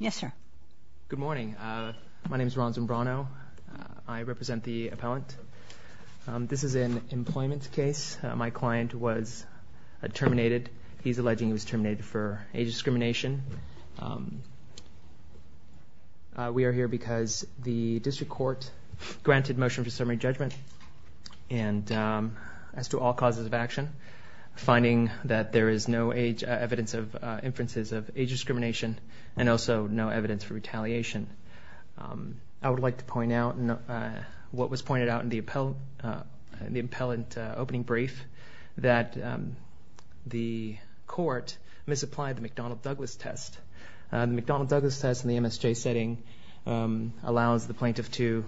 Yes, sir. Good morning. My name is Ron Zimbrano. I represent the appellant. This is an employment case. My client was terminated. He's alleging he was terminated for age discrimination. We are here because the district court granted motion for summary judgment. And as to all causes of action, finding that there is no evidence of inferences of age discrimination and also no evidence for retaliation. I would like to point out what was pointed out in the appellant opening brief, that the court misapplied the McDonnell-Douglas test. The McDonnell-Douglas test in the MSJ setting allows the plaintiff to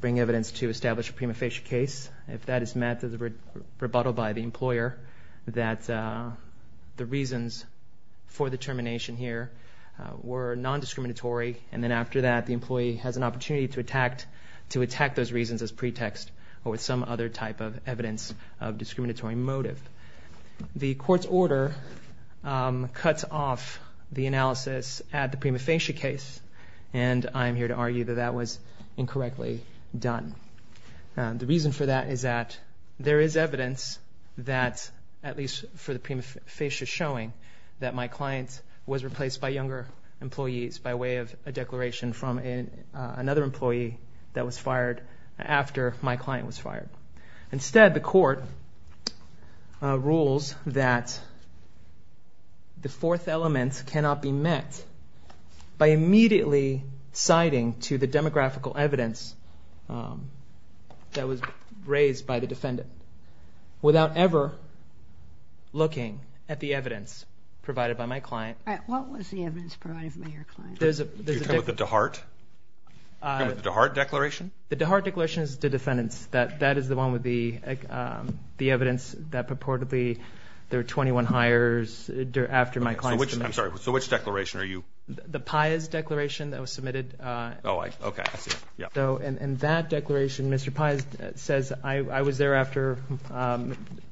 bring evidence to establish a prima facie case. If that is met, there's a rebuttal by the employer that the reasons for the termination here were non-discriminatory. And then after that, the employee has an opportunity to attack those reasons as pretext or with some other type of evidence of discriminatory motive. The court's order cuts off the analysis at the prima facie case. And I'm here to argue that that was incorrectly done. The reason for that is that there is evidence that, at least for the prima facie showing, that my client was replaced by younger employees by way of a declaration from another employee that was fired after my client was fired. Instead, the court rules that the fourth element cannot be met by immediately citing to the demographical evidence that was raised by the defendant without ever looking at the evidence provided by my client. What was the evidence provided by your client? You're talking about the DeHart? You're talking about the DeHart declaration? The DeHart declaration is the defendant's. That is the one with the evidence that purportedly there were 21 hires after my client's demise. I'm sorry, so which declaration are you? The Paez declaration that was submitted. Oh, okay, I see. And that declaration, Mr. Paez says, I was there after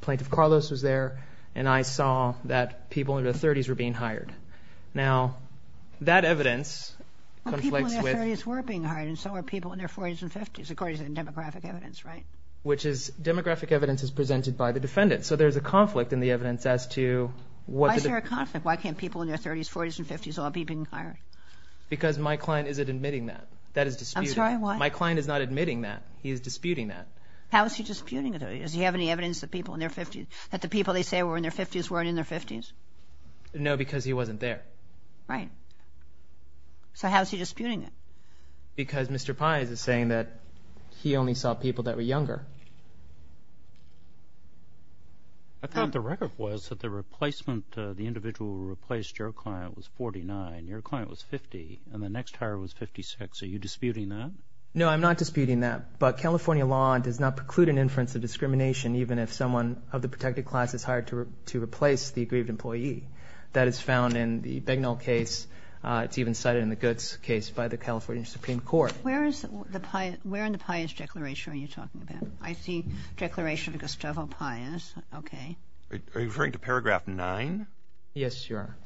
Plaintiff Carlos was there, and I saw that people in their 30s were being hired. Now, that evidence conflicts with... Well, people in their 30s were being hired, and so were people in their 40s and 50s, according to the demographic evidence, right? Demographic evidence is presented by the defendant. So there's a conflict in the evidence as to what the... Why is there a conflict? Why can't people in their 30s, 40s, and 50s all be being hired? Because my client isn't admitting that. That is disputed. I'm sorry, what? My client is not admitting that. He is disputing that. How is he disputing it? Does he have any evidence that people in their 50s, that the people they say were in their 50s weren't in their 50s? No, because he wasn't there. Right. So how is he disputing it? Because Mr. Paez is saying that he only saw people that were younger. I thought the record was that the replacement, the individual who replaced your client was 49, your client was 50, and the next hire was 56. Are you disputing that? No, I'm not disputing that. But California law does not preclude an inference of discrimination even if someone of the protected class is hired to replace the aggrieved employee. That is found in the Begnell case. It's even cited in the Goetz case by the California Supreme Court. Where in the Paez Declaration are you talking about? I see Declaration of Gustavo Paez. Okay. Are you referring to paragraph 9? Yes, Your Honor.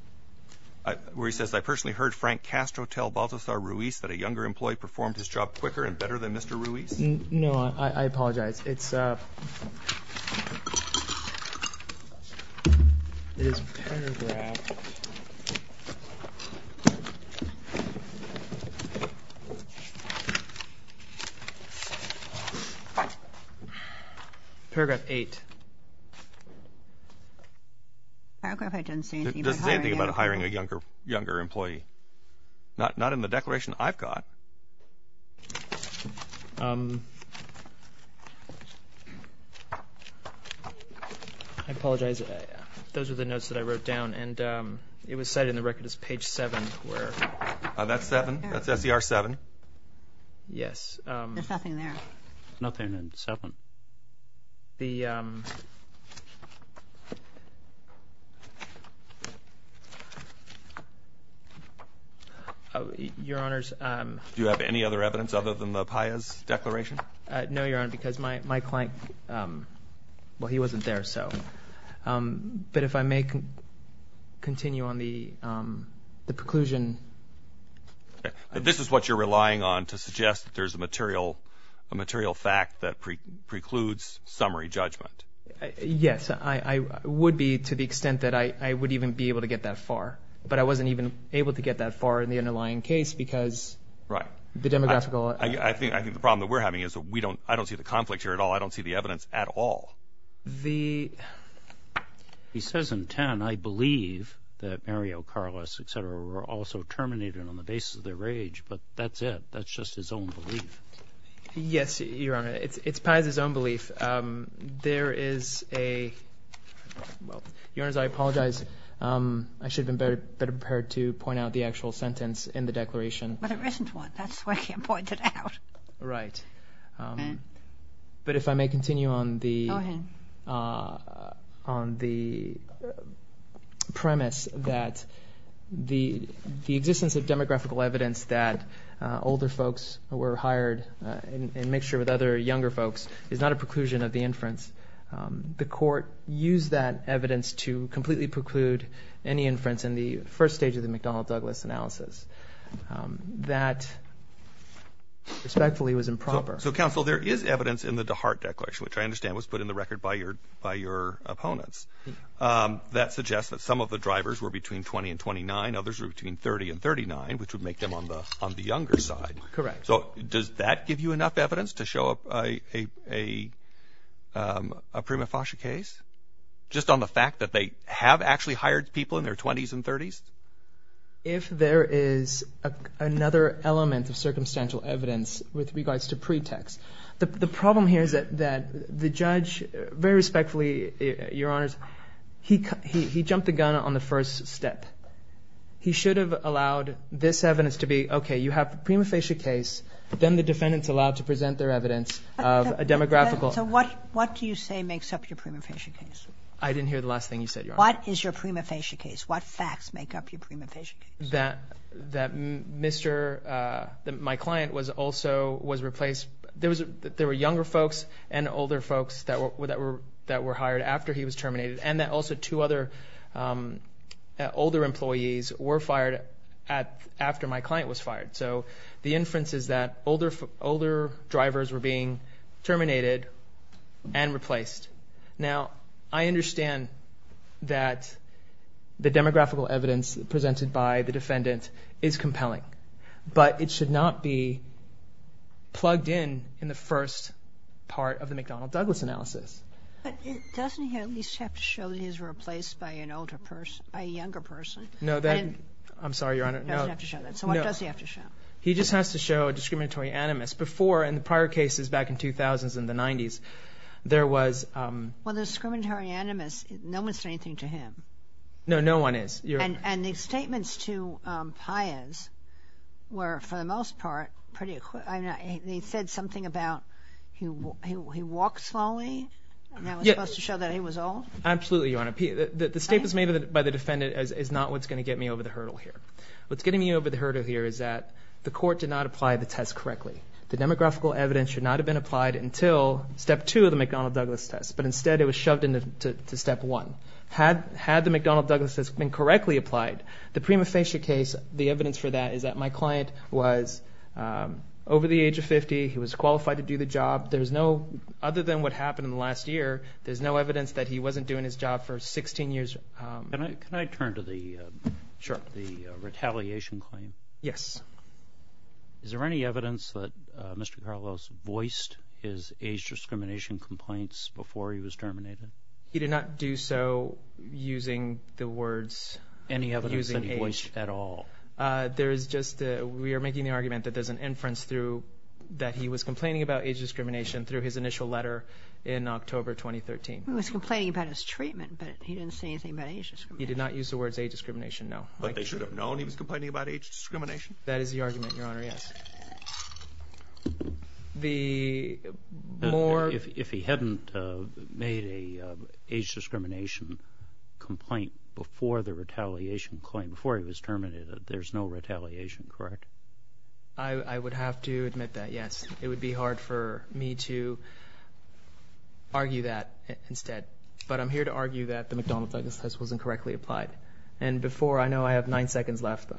Where he says, I personally heard Frank Castro tell Baltasar Ruiz that a younger employee performed his job quicker and better than Mr. Ruiz? No, I apologize. It's paragraph 8. It doesn't say anything about hiring a younger employee. Not in the declaration I've got. I apologize. Those are the notes that I wrote down, and it was cited in the record as page 7. That's 7? That's S.E.R. 7? Yes. There's nothing there. There's nothing in 7. Your Honors. Do you have any other evidence other than the Paez Declaration? No, Your Honor, because my client, well, he wasn't there, so. But if I may continue on the preclusion. This is what you're relying on to suggest that there's a material fact that precludes summary judgment? Yes. It would be to the extent that I would even be able to get that far, but I wasn't even able to get that far in the underlying case because the demographical. I think the problem that we're having is I don't see the conflict here at all. I don't see the evidence at all. He says in 10, I believe that Mario Carlos, et cetera, were also terminated on the basis of their rage, but that's it. That's just his own belief. Yes, Your Honor. It's Paez's own belief. There is a, well, Your Honors, I apologize. I should have been better prepared to point out the actual sentence in the Declaration. But there isn't one. That's why I can't point it out. Right. But if I may continue on the. Go ahead. On the premise that the, the existence of demographical evidence that older folks were hired and make sure with other younger folks is not a preclusion of the inference. The court used that evidence to completely preclude any inference in the first stage of the McDonnell Douglas analysis. That respectfully was improper. So counsel, there is evidence in the heart declaration, which I understand was put in the record by your opponents. That suggests that some of the drivers were between 20 and 29. Others were between 30 and 39, which would make them on the younger side. Correct. So does that give you enough evidence to show a prima facie case? Just on the fact that they have actually hired people in their 20s and 30s? If there is another element of circumstantial evidence with regards to the judge, very respectfully, your honors, he jumped the gun on the first step. He should have allowed this evidence to be, okay, you have a prima facie case. Then the defendants allowed to present their evidence of a demographical. So what, what do you say makes up your prima facie case? I didn't hear the last thing you said. What is your prima facie case? What facts make up your prima facie case? That, that Mr. My client was also, was replaced. There was a, there were younger folks and older folks that were, that were, that were hired after he was terminated. And that also two other older employees were fired at, after my client was fired. So the inference is that older, older drivers were being terminated and replaced. Now I understand that the demographical evidence presented by the defendant is compelling, but it should not be plugged in, in the first part of the McDonnell Douglas analysis. Doesn't he at least have to show that he's replaced by an older person, by a younger person? No, I'm sorry, your honor. So what does he have to show? He just has to show a discriminatory animus. Before, in the prior cases back in 2000s and the nineties, there was. Well, the discriminatory animus, no one said anything to him. No, no one is. And the statements to Pius were, for the most part, pretty quick. They said something about he walked slowly, and that was supposed to show that he was old? Absolutely, your honor. The statements made by the defendant is not what's going to get me over the hurdle here. What's getting me over the hurdle here is that the court did not apply the test correctly. The demographical evidence should not have been applied until step two of the McDonnell Douglas test, but instead it was shoved into step one. Had the McDonnell Douglas test been correctly applied, the prima facie case, the evidence for that is that my client was over the age of 50, he was qualified to do the job. There's no, other than what happened in the last year, there's no evidence that he wasn't doing his job for 16 years. Can I turn to the retaliation claim? Yes. Is there any evidence that Mr. Carlos voiced his age discrimination complaints before he was terminated? He did not do so using the words, using age. Any evidence that he voiced at all? There is just a, we are making the argument that there's an inference through that he was complaining about age discrimination through his initial letter in October 2013. He was complaining about his treatment, but he didn't say anything about age discrimination. He did not use the words age discrimination, no. But they should have known he was complaining about age discrimination? That is the argument, your honor, yes. The more. If he hadn't made an age discrimination complaint before the retaliation claim, before he was terminated, there's no retaliation, correct? I would have to admit that, yes. It would be hard for me to argue that instead. But I'm here to argue that the McDonald's exercise was incorrectly applied. And before, I know I have nine seconds left.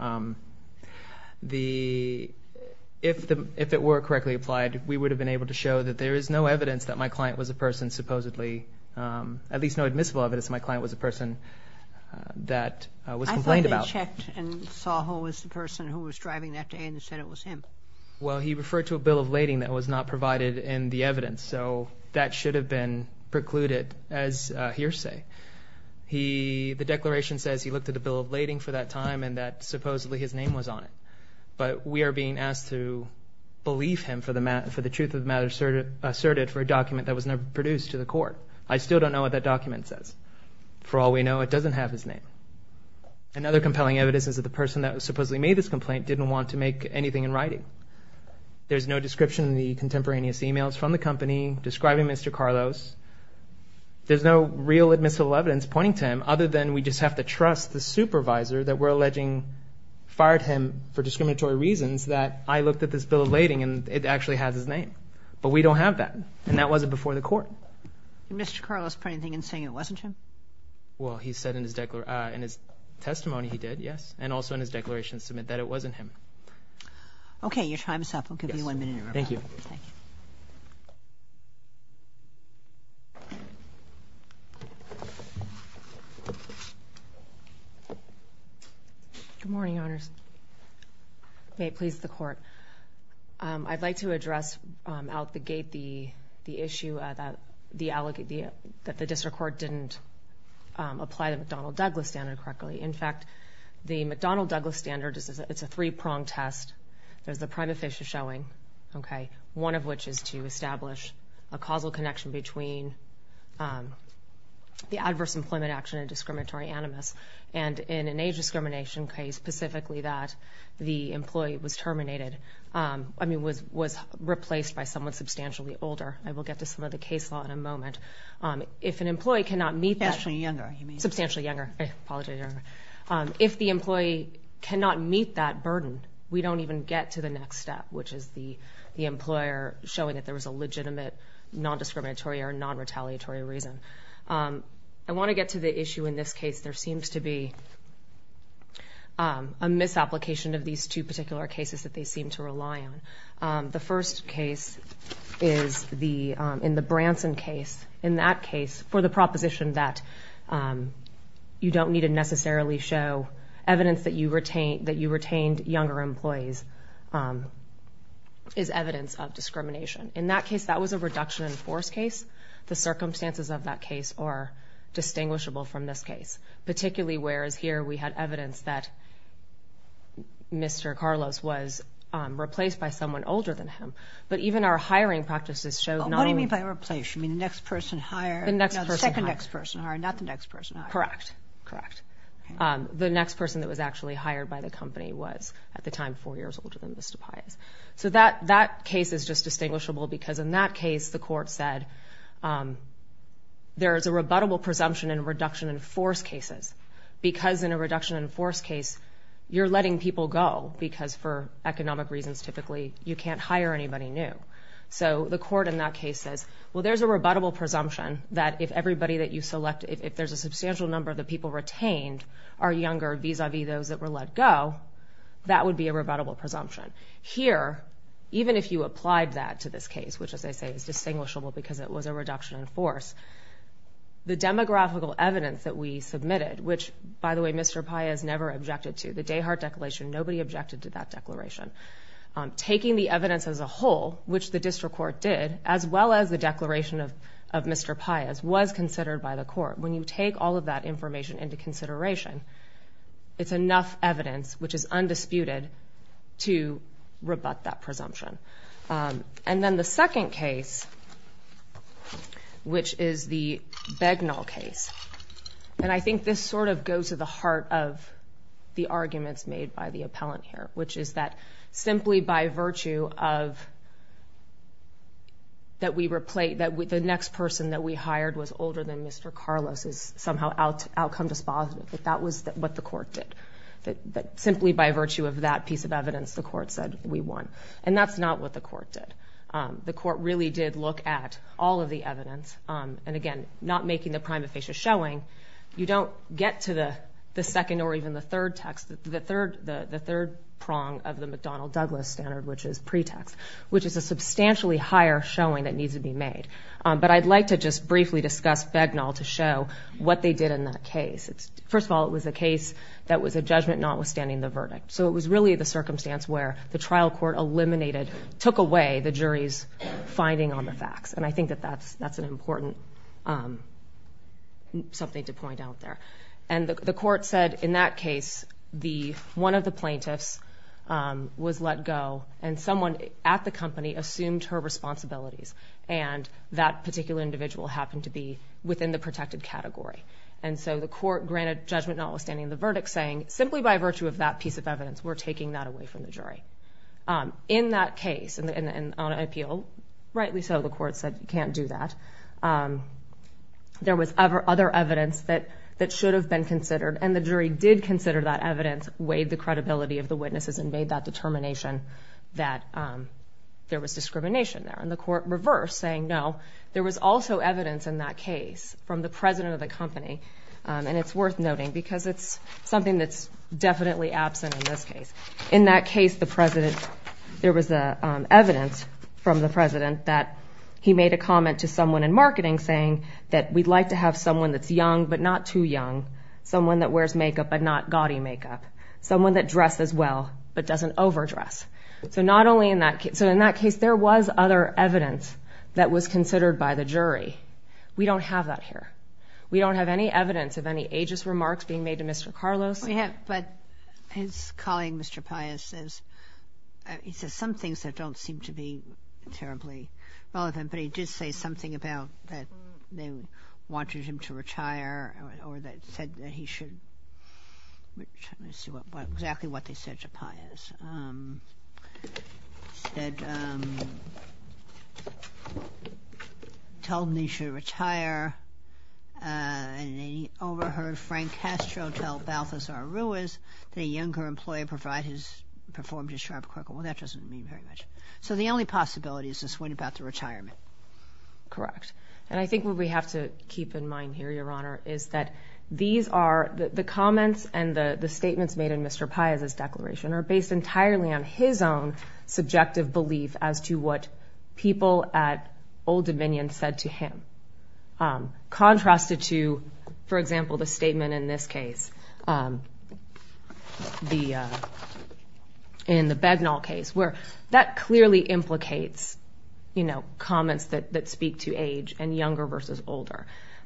If it were correctly applied, we would have been able to show that there is no evidence that my client was a person supposedly, at least no admissible evidence that my client was a person that was complained about. I thought they checked and saw who was the person who was driving that day and said it was him. Well, he referred to a bill of lading that was not provided in the evidence. So that should have been precluded as a hearsay. The declaration says he looked at a bill of lading for that time and that supposedly his name was on it. But we are being asked to believe him for the truth of the matter asserted for a document that was never produced to the court. I still don't know what that document says. For all we know, it doesn't have his name. Another compelling evidence is that the person that supposedly made this complaint didn't want to make anything in writing. There's no description in the contemporaneous emails from the company describing Mr. Carlos. There's no real admissible evidence pointing to him other than we just have the trust, the supervisor that we're alleging fired him for discriminatory reasons that I looked at this bill of lading and it actually has his name. But we don't have that, and that wasn't before the court. Did Mr. Carlos put anything in saying it wasn't him? Well, he said in his testimony he did, yes, and also in his declaration to submit that it wasn't him. Okay, your time is up. I'll give you one minute. Thank you. Thank you. Good morning, Your Honors. May it please the court. I'd like to address out the gate the issue that the district court didn't apply the McDonnell-Douglas standard correctly. In fact, the McDonnell-Douglas standard is a three-pronged test. There's the prima facie showing, okay, one of which is to establish a causal connection between the adverse employment action and discriminatory animus, and in an age discrimination case, specifically that the employee was terminated, I mean was replaced by someone substantially older. I will get to some of the case law in a moment. If an employee cannot meet that. Substantially younger. Substantially younger. I apologize. If the employee cannot meet that burden, we don't even get to the next step, which is the employer showing that there was a legitimate non-discriminatory or non-retaliatory reason. I want to get to the issue in this case. There seems to be a misapplication of these two particular cases that they seem to rely on. The first case is in the Branson case. In that case, for the proposition that you don't need to necessarily show evidence that you retained younger employees is evidence of discrimination. In that case, that was a reduction-in-force case. The circumstances of that case are distinguishable from this case, particularly whereas here we had evidence that Mr. Carlos was replaced by someone older than him. But even our hiring practices showed not only. What do you mean by replaced? You mean the next person hired? The next person hired. No, the second next person hired, not the next person hired. Correct. Correct. The next person that was actually hired by the company was, at the time, four years older than Mr. Pais. That case is just distinguishable because in that case the court said there is a rebuttable presumption in reduction-in-force cases because in a reduction-in-force case you're letting people go because, for economic reasons typically, you can't hire anybody new. So the court in that case says, well, there's a rebuttable presumption that if everybody that you select, if there's a substantial number of the people retained are younger vis-à-vis those that were let go, that would be a rebuttable presumption. Here, even if you applied that to this case, which, as I say, is distinguishable because it was a reduction-in-force, the demographical evidence that we submitted, which, by the way, Mr. Pais never objected to, the Dayhart Declaration, nobody objected to that declaration. Taking the evidence as a whole, which the district court did, as well as the declaration of Mr. Pais, was considered by the court. When you take all of that information into consideration, it's enough evidence, which is undisputed, to rebut that presumption. And then the second case, which is the Begnall case, and I think this sort of goes to the heart of the arguments made by the simply by virtue of that the next person that we hired was older than Mr. Carlos is somehow outcome dispositive. That was what the court did. Simply by virtue of that piece of evidence, the court said we won. And that's not what the court did. The court really did look at all of the evidence, and again, not making the prima facie showing. You don't get to the second or even the third text, the third prong of the McDonnell-Douglas standard, which is pretext, which is a substantially higher showing that needs to be made. But I'd like to just briefly discuss Begnall to show what they did in that case. First of all, it was a case that was a judgment notwithstanding the verdict. So it was really the circumstance where the trial court eliminated, took away the jury's finding on the facts, and I think that that's an important something to point out there. And the court said in that case one of the plaintiffs was let go and someone at the company assumed her responsibilities, and that particular individual happened to be within the protected category. And so the court granted judgment notwithstanding the verdict, saying simply by virtue of that piece of evidence, we're taking that away from the jury. In that case, and on appeal, rightly so, the court said you can't do that. There was other evidence that should have been considered, and the jury did consider that evidence, weighed the credibility of the witnesses, and made that determination that there was discrimination there. And the court reversed, saying no, there was also evidence in that case from the president of the company, and it's worth noting because it's something that's definitely absent in this case. In that case, there was evidence from the president that he made a comment to someone in marketing saying that we'd like to have someone that's young but not too young, someone that wears makeup but not gaudy makeup, someone that dresses well but doesn't overdress. So in that case, there was other evidence that was considered by the jury. We don't have that here. We don't have any evidence of any ageist remarks being made to Mr. Carlos. Yes, we have, but his colleague, Mr. Paius, says some things that don't seem to be terribly relevant, but he did say something about that they wanted him to retire or that said that he should retire. Let's see exactly what they said to Paius. They said, told him he should retire, and then he overheard Frank Castro tell Balthazar Ruiz that a younger employer performed a sharp crickle. Well, that doesn't mean very much. So the only possibility is to swing it back to retirement. Correct, and I think what we have to keep in mind here, Your Honor, is that these are the comments and the statements made in Mr. Paius' declaration are based entirely on his own subjective belief as to what people at Old Dominion said to him. Contrasted to, for example, the statement in this case, in the Begnal case, where that clearly implicates, you know, comments that speak to age and younger versus older.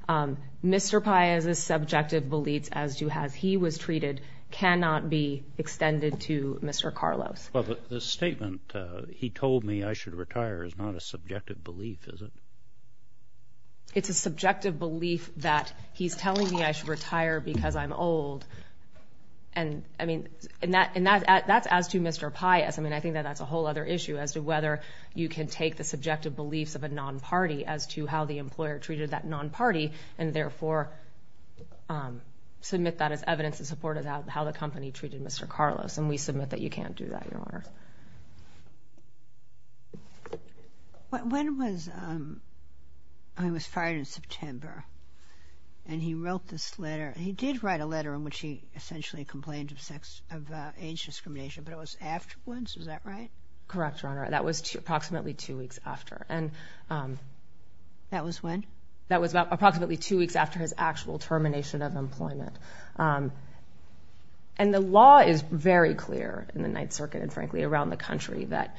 Mr. Paius' subjective beliefs as to how he was treated cannot be extended to Mr. Carlos. Well, the statement, he told me I should retire, is not a subjective belief, is it? It's a subjective belief that he's telling me I should retire because I'm old. And, I mean, that's as to Mr. Paius. I mean, I think that that's a whole other issue as to whether you can take the subjective beliefs of a non-party as to how the employer treated that non-party and therefore submit that as evidence in support of how the company treated Mr. Carlos. And we submit that you can't do that, Your Honor. When was, I mean, it was Friday, September, and he wrote this letter. He did write a letter in which he essentially complained of age discrimination, but it was afterwards, is that right? Correct, Your Honor. That was approximately two weeks after. That was when? That was about approximately two weeks after his actual termination of employment. And the law is very clear in the Ninth Circuit and, frankly, around the country, that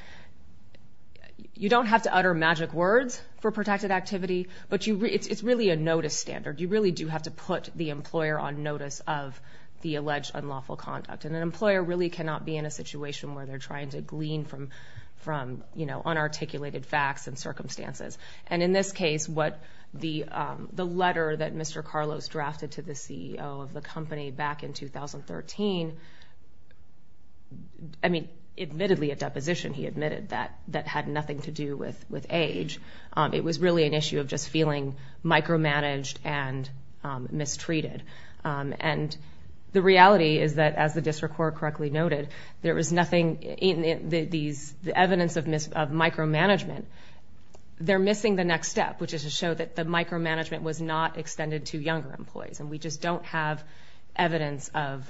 you don't have to utter magic words for protected activity, but it's really a notice standard. You really do have to put the employer on notice of the alleged unlawful conduct. And an employer really cannot be in a situation where they're trying to glean from, you know, unarticulated facts and circumstances. And in this case, the letter that Mr. Carlos drafted to the CEO of the company back in 2013, I mean, admittedly a deposition, he admitted, that had nothing to do with age. It was really an issue of just feeling micromanaged and mistreated. And the reality is that, as the district court correctly noted, there was nothing in these evidence of micromanagement. They're missing the next step, which is to show that the micromanagement was not extended to younger employees. And we just don't have evidence of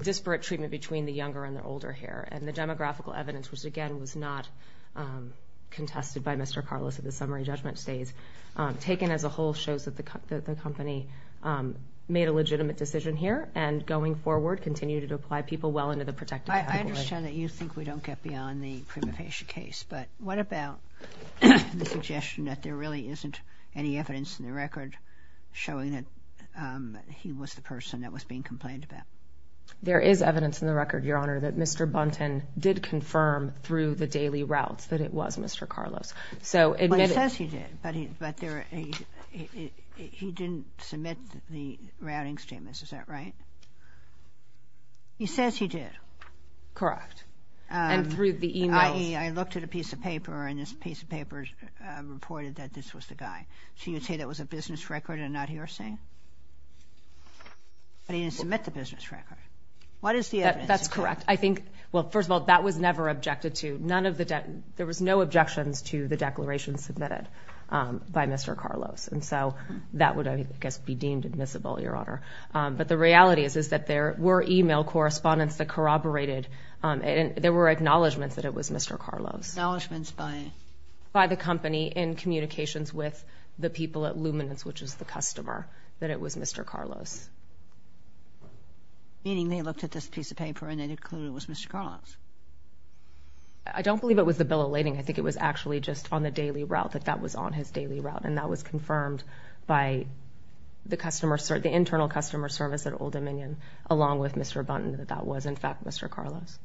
disparate treatment between the younger and the older here. And the demographical evidence, which, again, was not contested by Mr. Carlos at the summary judgment stage, taken as a whole shows that the company made a legitimate decision here and, going forward, continued to apply people well into the protective category. I understand that you think we don't get beyond the prima facie case, but what about the suggestion that there really isn't any evidence in the record showing that he was the person that was being complained about? There is evidence in the record, Your Honor, that Mr. Bunton did confirm through the daily routes that it was Mr. Carlos. Well, he says he did, but he didn't submit the routing statements. Is that right? He says he did. Correct. And through the e-mails. I.e., I looked at a piece of paper, and this piece of paper reported that this was the guy. So you would say that was a business record and not hearsay? But he didn't submit the business record. What is the evidence? That's correct. I think, well, first of all, that was never objected to. There was no objections to the declaration submitted by Mr. Carlos, and so that would, I guess, be deemed admissible, Your Honor. But the reality is that there were e-mail correspondence that corroborated and there were acknowledgments that it was Mr. Carlos. Acknowledgments by? By the company in communications with the people at Luminance, which is the customer, that it was Mr. Carlos. Meaning they looked at this piece of paper and they concluded it was Mr. Carlos? I don't believe it was the bill of lading. I think it was actually just on the daily route, that that was on his daily route, and that was confirmed by the internal customer service at Old Dominion, along with Mr. Bunton, that that was, in fact, Mr. Carlos.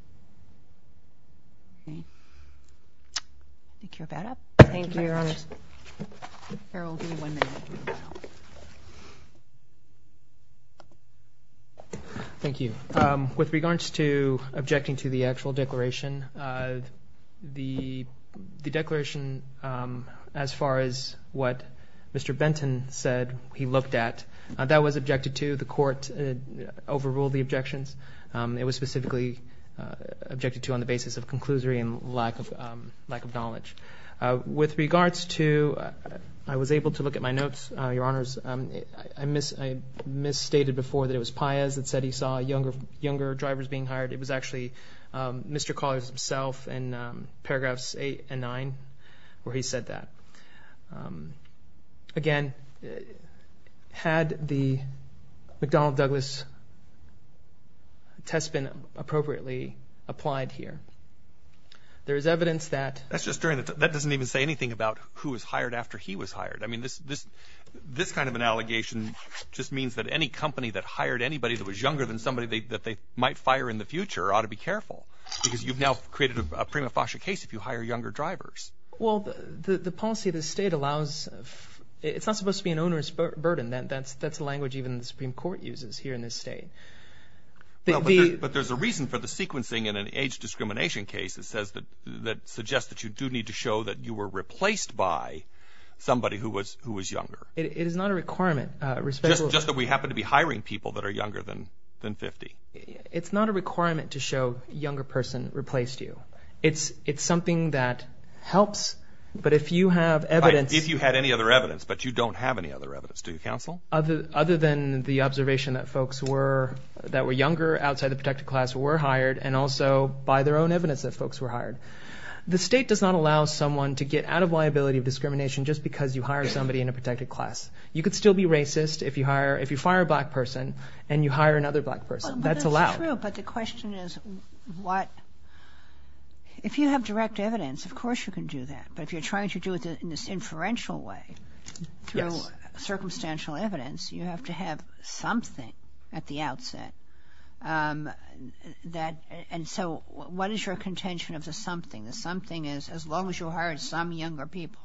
I think you're about up. Thank you, Your Honor. Harold, give me one minute. Thank you. With regards to objecting to the actual declaration, the declaration, as far as what Mr. Benton said he looked at, that was objected to. The court overruled the objections. It was specifically objected to on the basis of conclusory and lack of knowledge. With regards to, I was able to look at my notes, Your Honors. I misstated before that it was Paez that said he saw younger drivers being hired. It was actually Mr. Carlos himself in paragraphs eight and nine where he said that. Again, had the McDonnell-Douglas test been appropriately applied here? There is evidence that. That doesn't even say anything about who was hired after he was hired. I mean, this kind of an allegation just means that any company that hired anybody that was younger than somebody that they might fire in the future ought to be careful because you've now created a prima facie case if you hire younger drivers. Well, the policy of the state allows, it's not supposed to be an onerous burden. That's a language even the Supreme Court uses here in this state. But there's a reason for the sequencing in an age discrimination case that suggests that you do need to show that you were replaced by somebody who was younger. It is not a requirement. Just that we happen to be hiring people that are younger than 50. It's not a requirement to show a younger person replaced you. It's something that helps, but if you have evidence. If you had any other evidence, but you don't have any other evidence. Do you counsel? Other than the observation that folks that were younger outside the protected class were hired and also by their own evidence that folks were hired. The state does not allow someone to get out of liability of discrimination just because you hire somebody in a protected class. You could still be racist if you fire a black person and you hire another black person. That's allowed. That's true, but the question is what, if you have direct evidence, of course you can do that. But if you're trying to do it in this inferential way through circumstantial evidence, you have to have something at the outset. And so what is your contention of the something? The something is as long as you hired some younger people,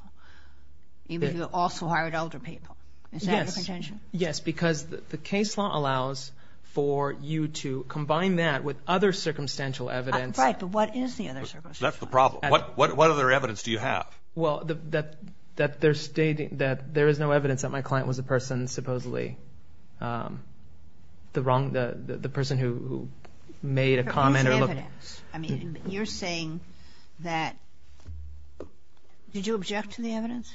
even if you also hired older people. Is that the contention? Yes, because the case law allows for you to combine that with other circumstantial evidence. Right, but what is the other circumstantial evidence? That's the problem. What other evidence do you have? Well, that there is no evidence that my client was a person supposedly, the person who made a comment. You're saying that, did you object to the evidence?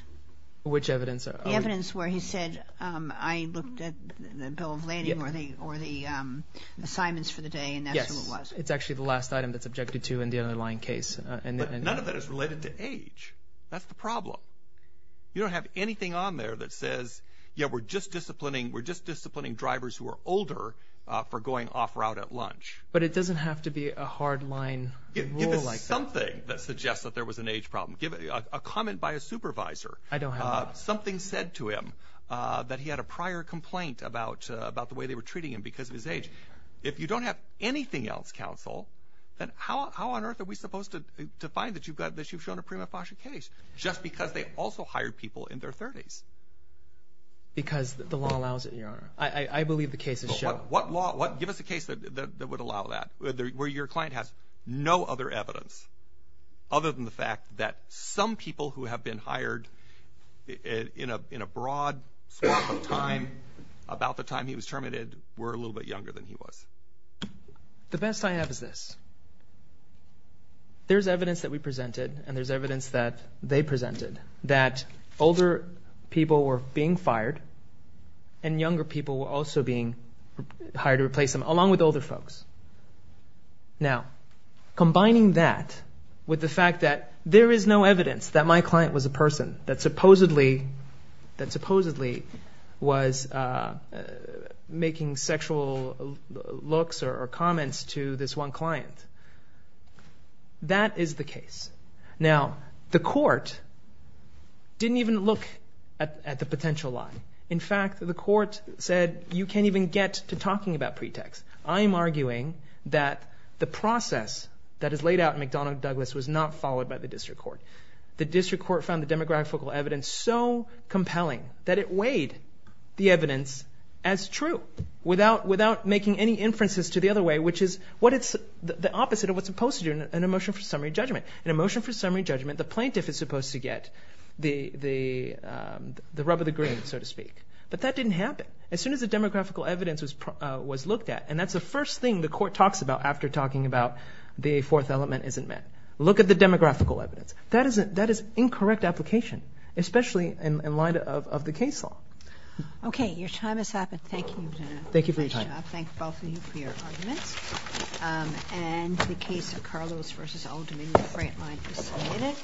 Which evidence? The evidence where he said, I looked at the bill of lading or the assignments for the day and that's who it was. Yes, it's actually the last item that's objected to in the underlying case. But none of that is related to age. That's the problem. You don't have anything on there that says, yeah, we're just disciplining drivers who are older for going off route at lunch. But it doesn't have to be a hard line rule like that. Give us something that suggests that there was an age problem. Give a comment by a supervisor. I don't have one. Something said to him that he had a prior complaint about the way they were treating him because of his age. If you don't have anything else, counsel, then how on earth are we supposed to find that you've shown a prima facie case? Just because they also hired people in their 30s. Because the law allows it, Your Honor. I believe the case is shown. What law? Give us a case that would allow that, where your client has no other evidence, other than the fact that some people who have been hired in a broad swath of time about the time he was terminated were a little bit younger than he was. The best I have is this. There's evidence that we presented and there's evidence that they presented, that older people were being fired and younger people were also being hired to replace them, along with older folks. Now, combining that with the fact that there is no evidence that my client was a person that supposedly was making sexual looks or comments to this one client. That is the case. Now, the court didn't even look at the potential lie. In fact, the court said you can't even get to talking about pretext. I am arguing that the process that is laid out in McDonough-Douglas was not followed by the district court. The district court found the demographical evidence so compelling that it weighed the evidence as true without making any inferences to the other way, which is the opposite of what's supposed to do in a motion for summary judgment. In a motion for summary judgment, the plaintiff is supposed to get the rub of the green, so to speak. But that didn't happen. As soon as the demographical evidence was looked at, and that's the first thing the court talks about after talking about the fourth element isn't met. Look at the demographical evidence. That is incorrect application, especially in light of the case law. Okay. Your time has passed. Thank you. Thank you for your time. And I thank both of you for your arguments. And the case of Carlos v. Oldham in the front line is submitted.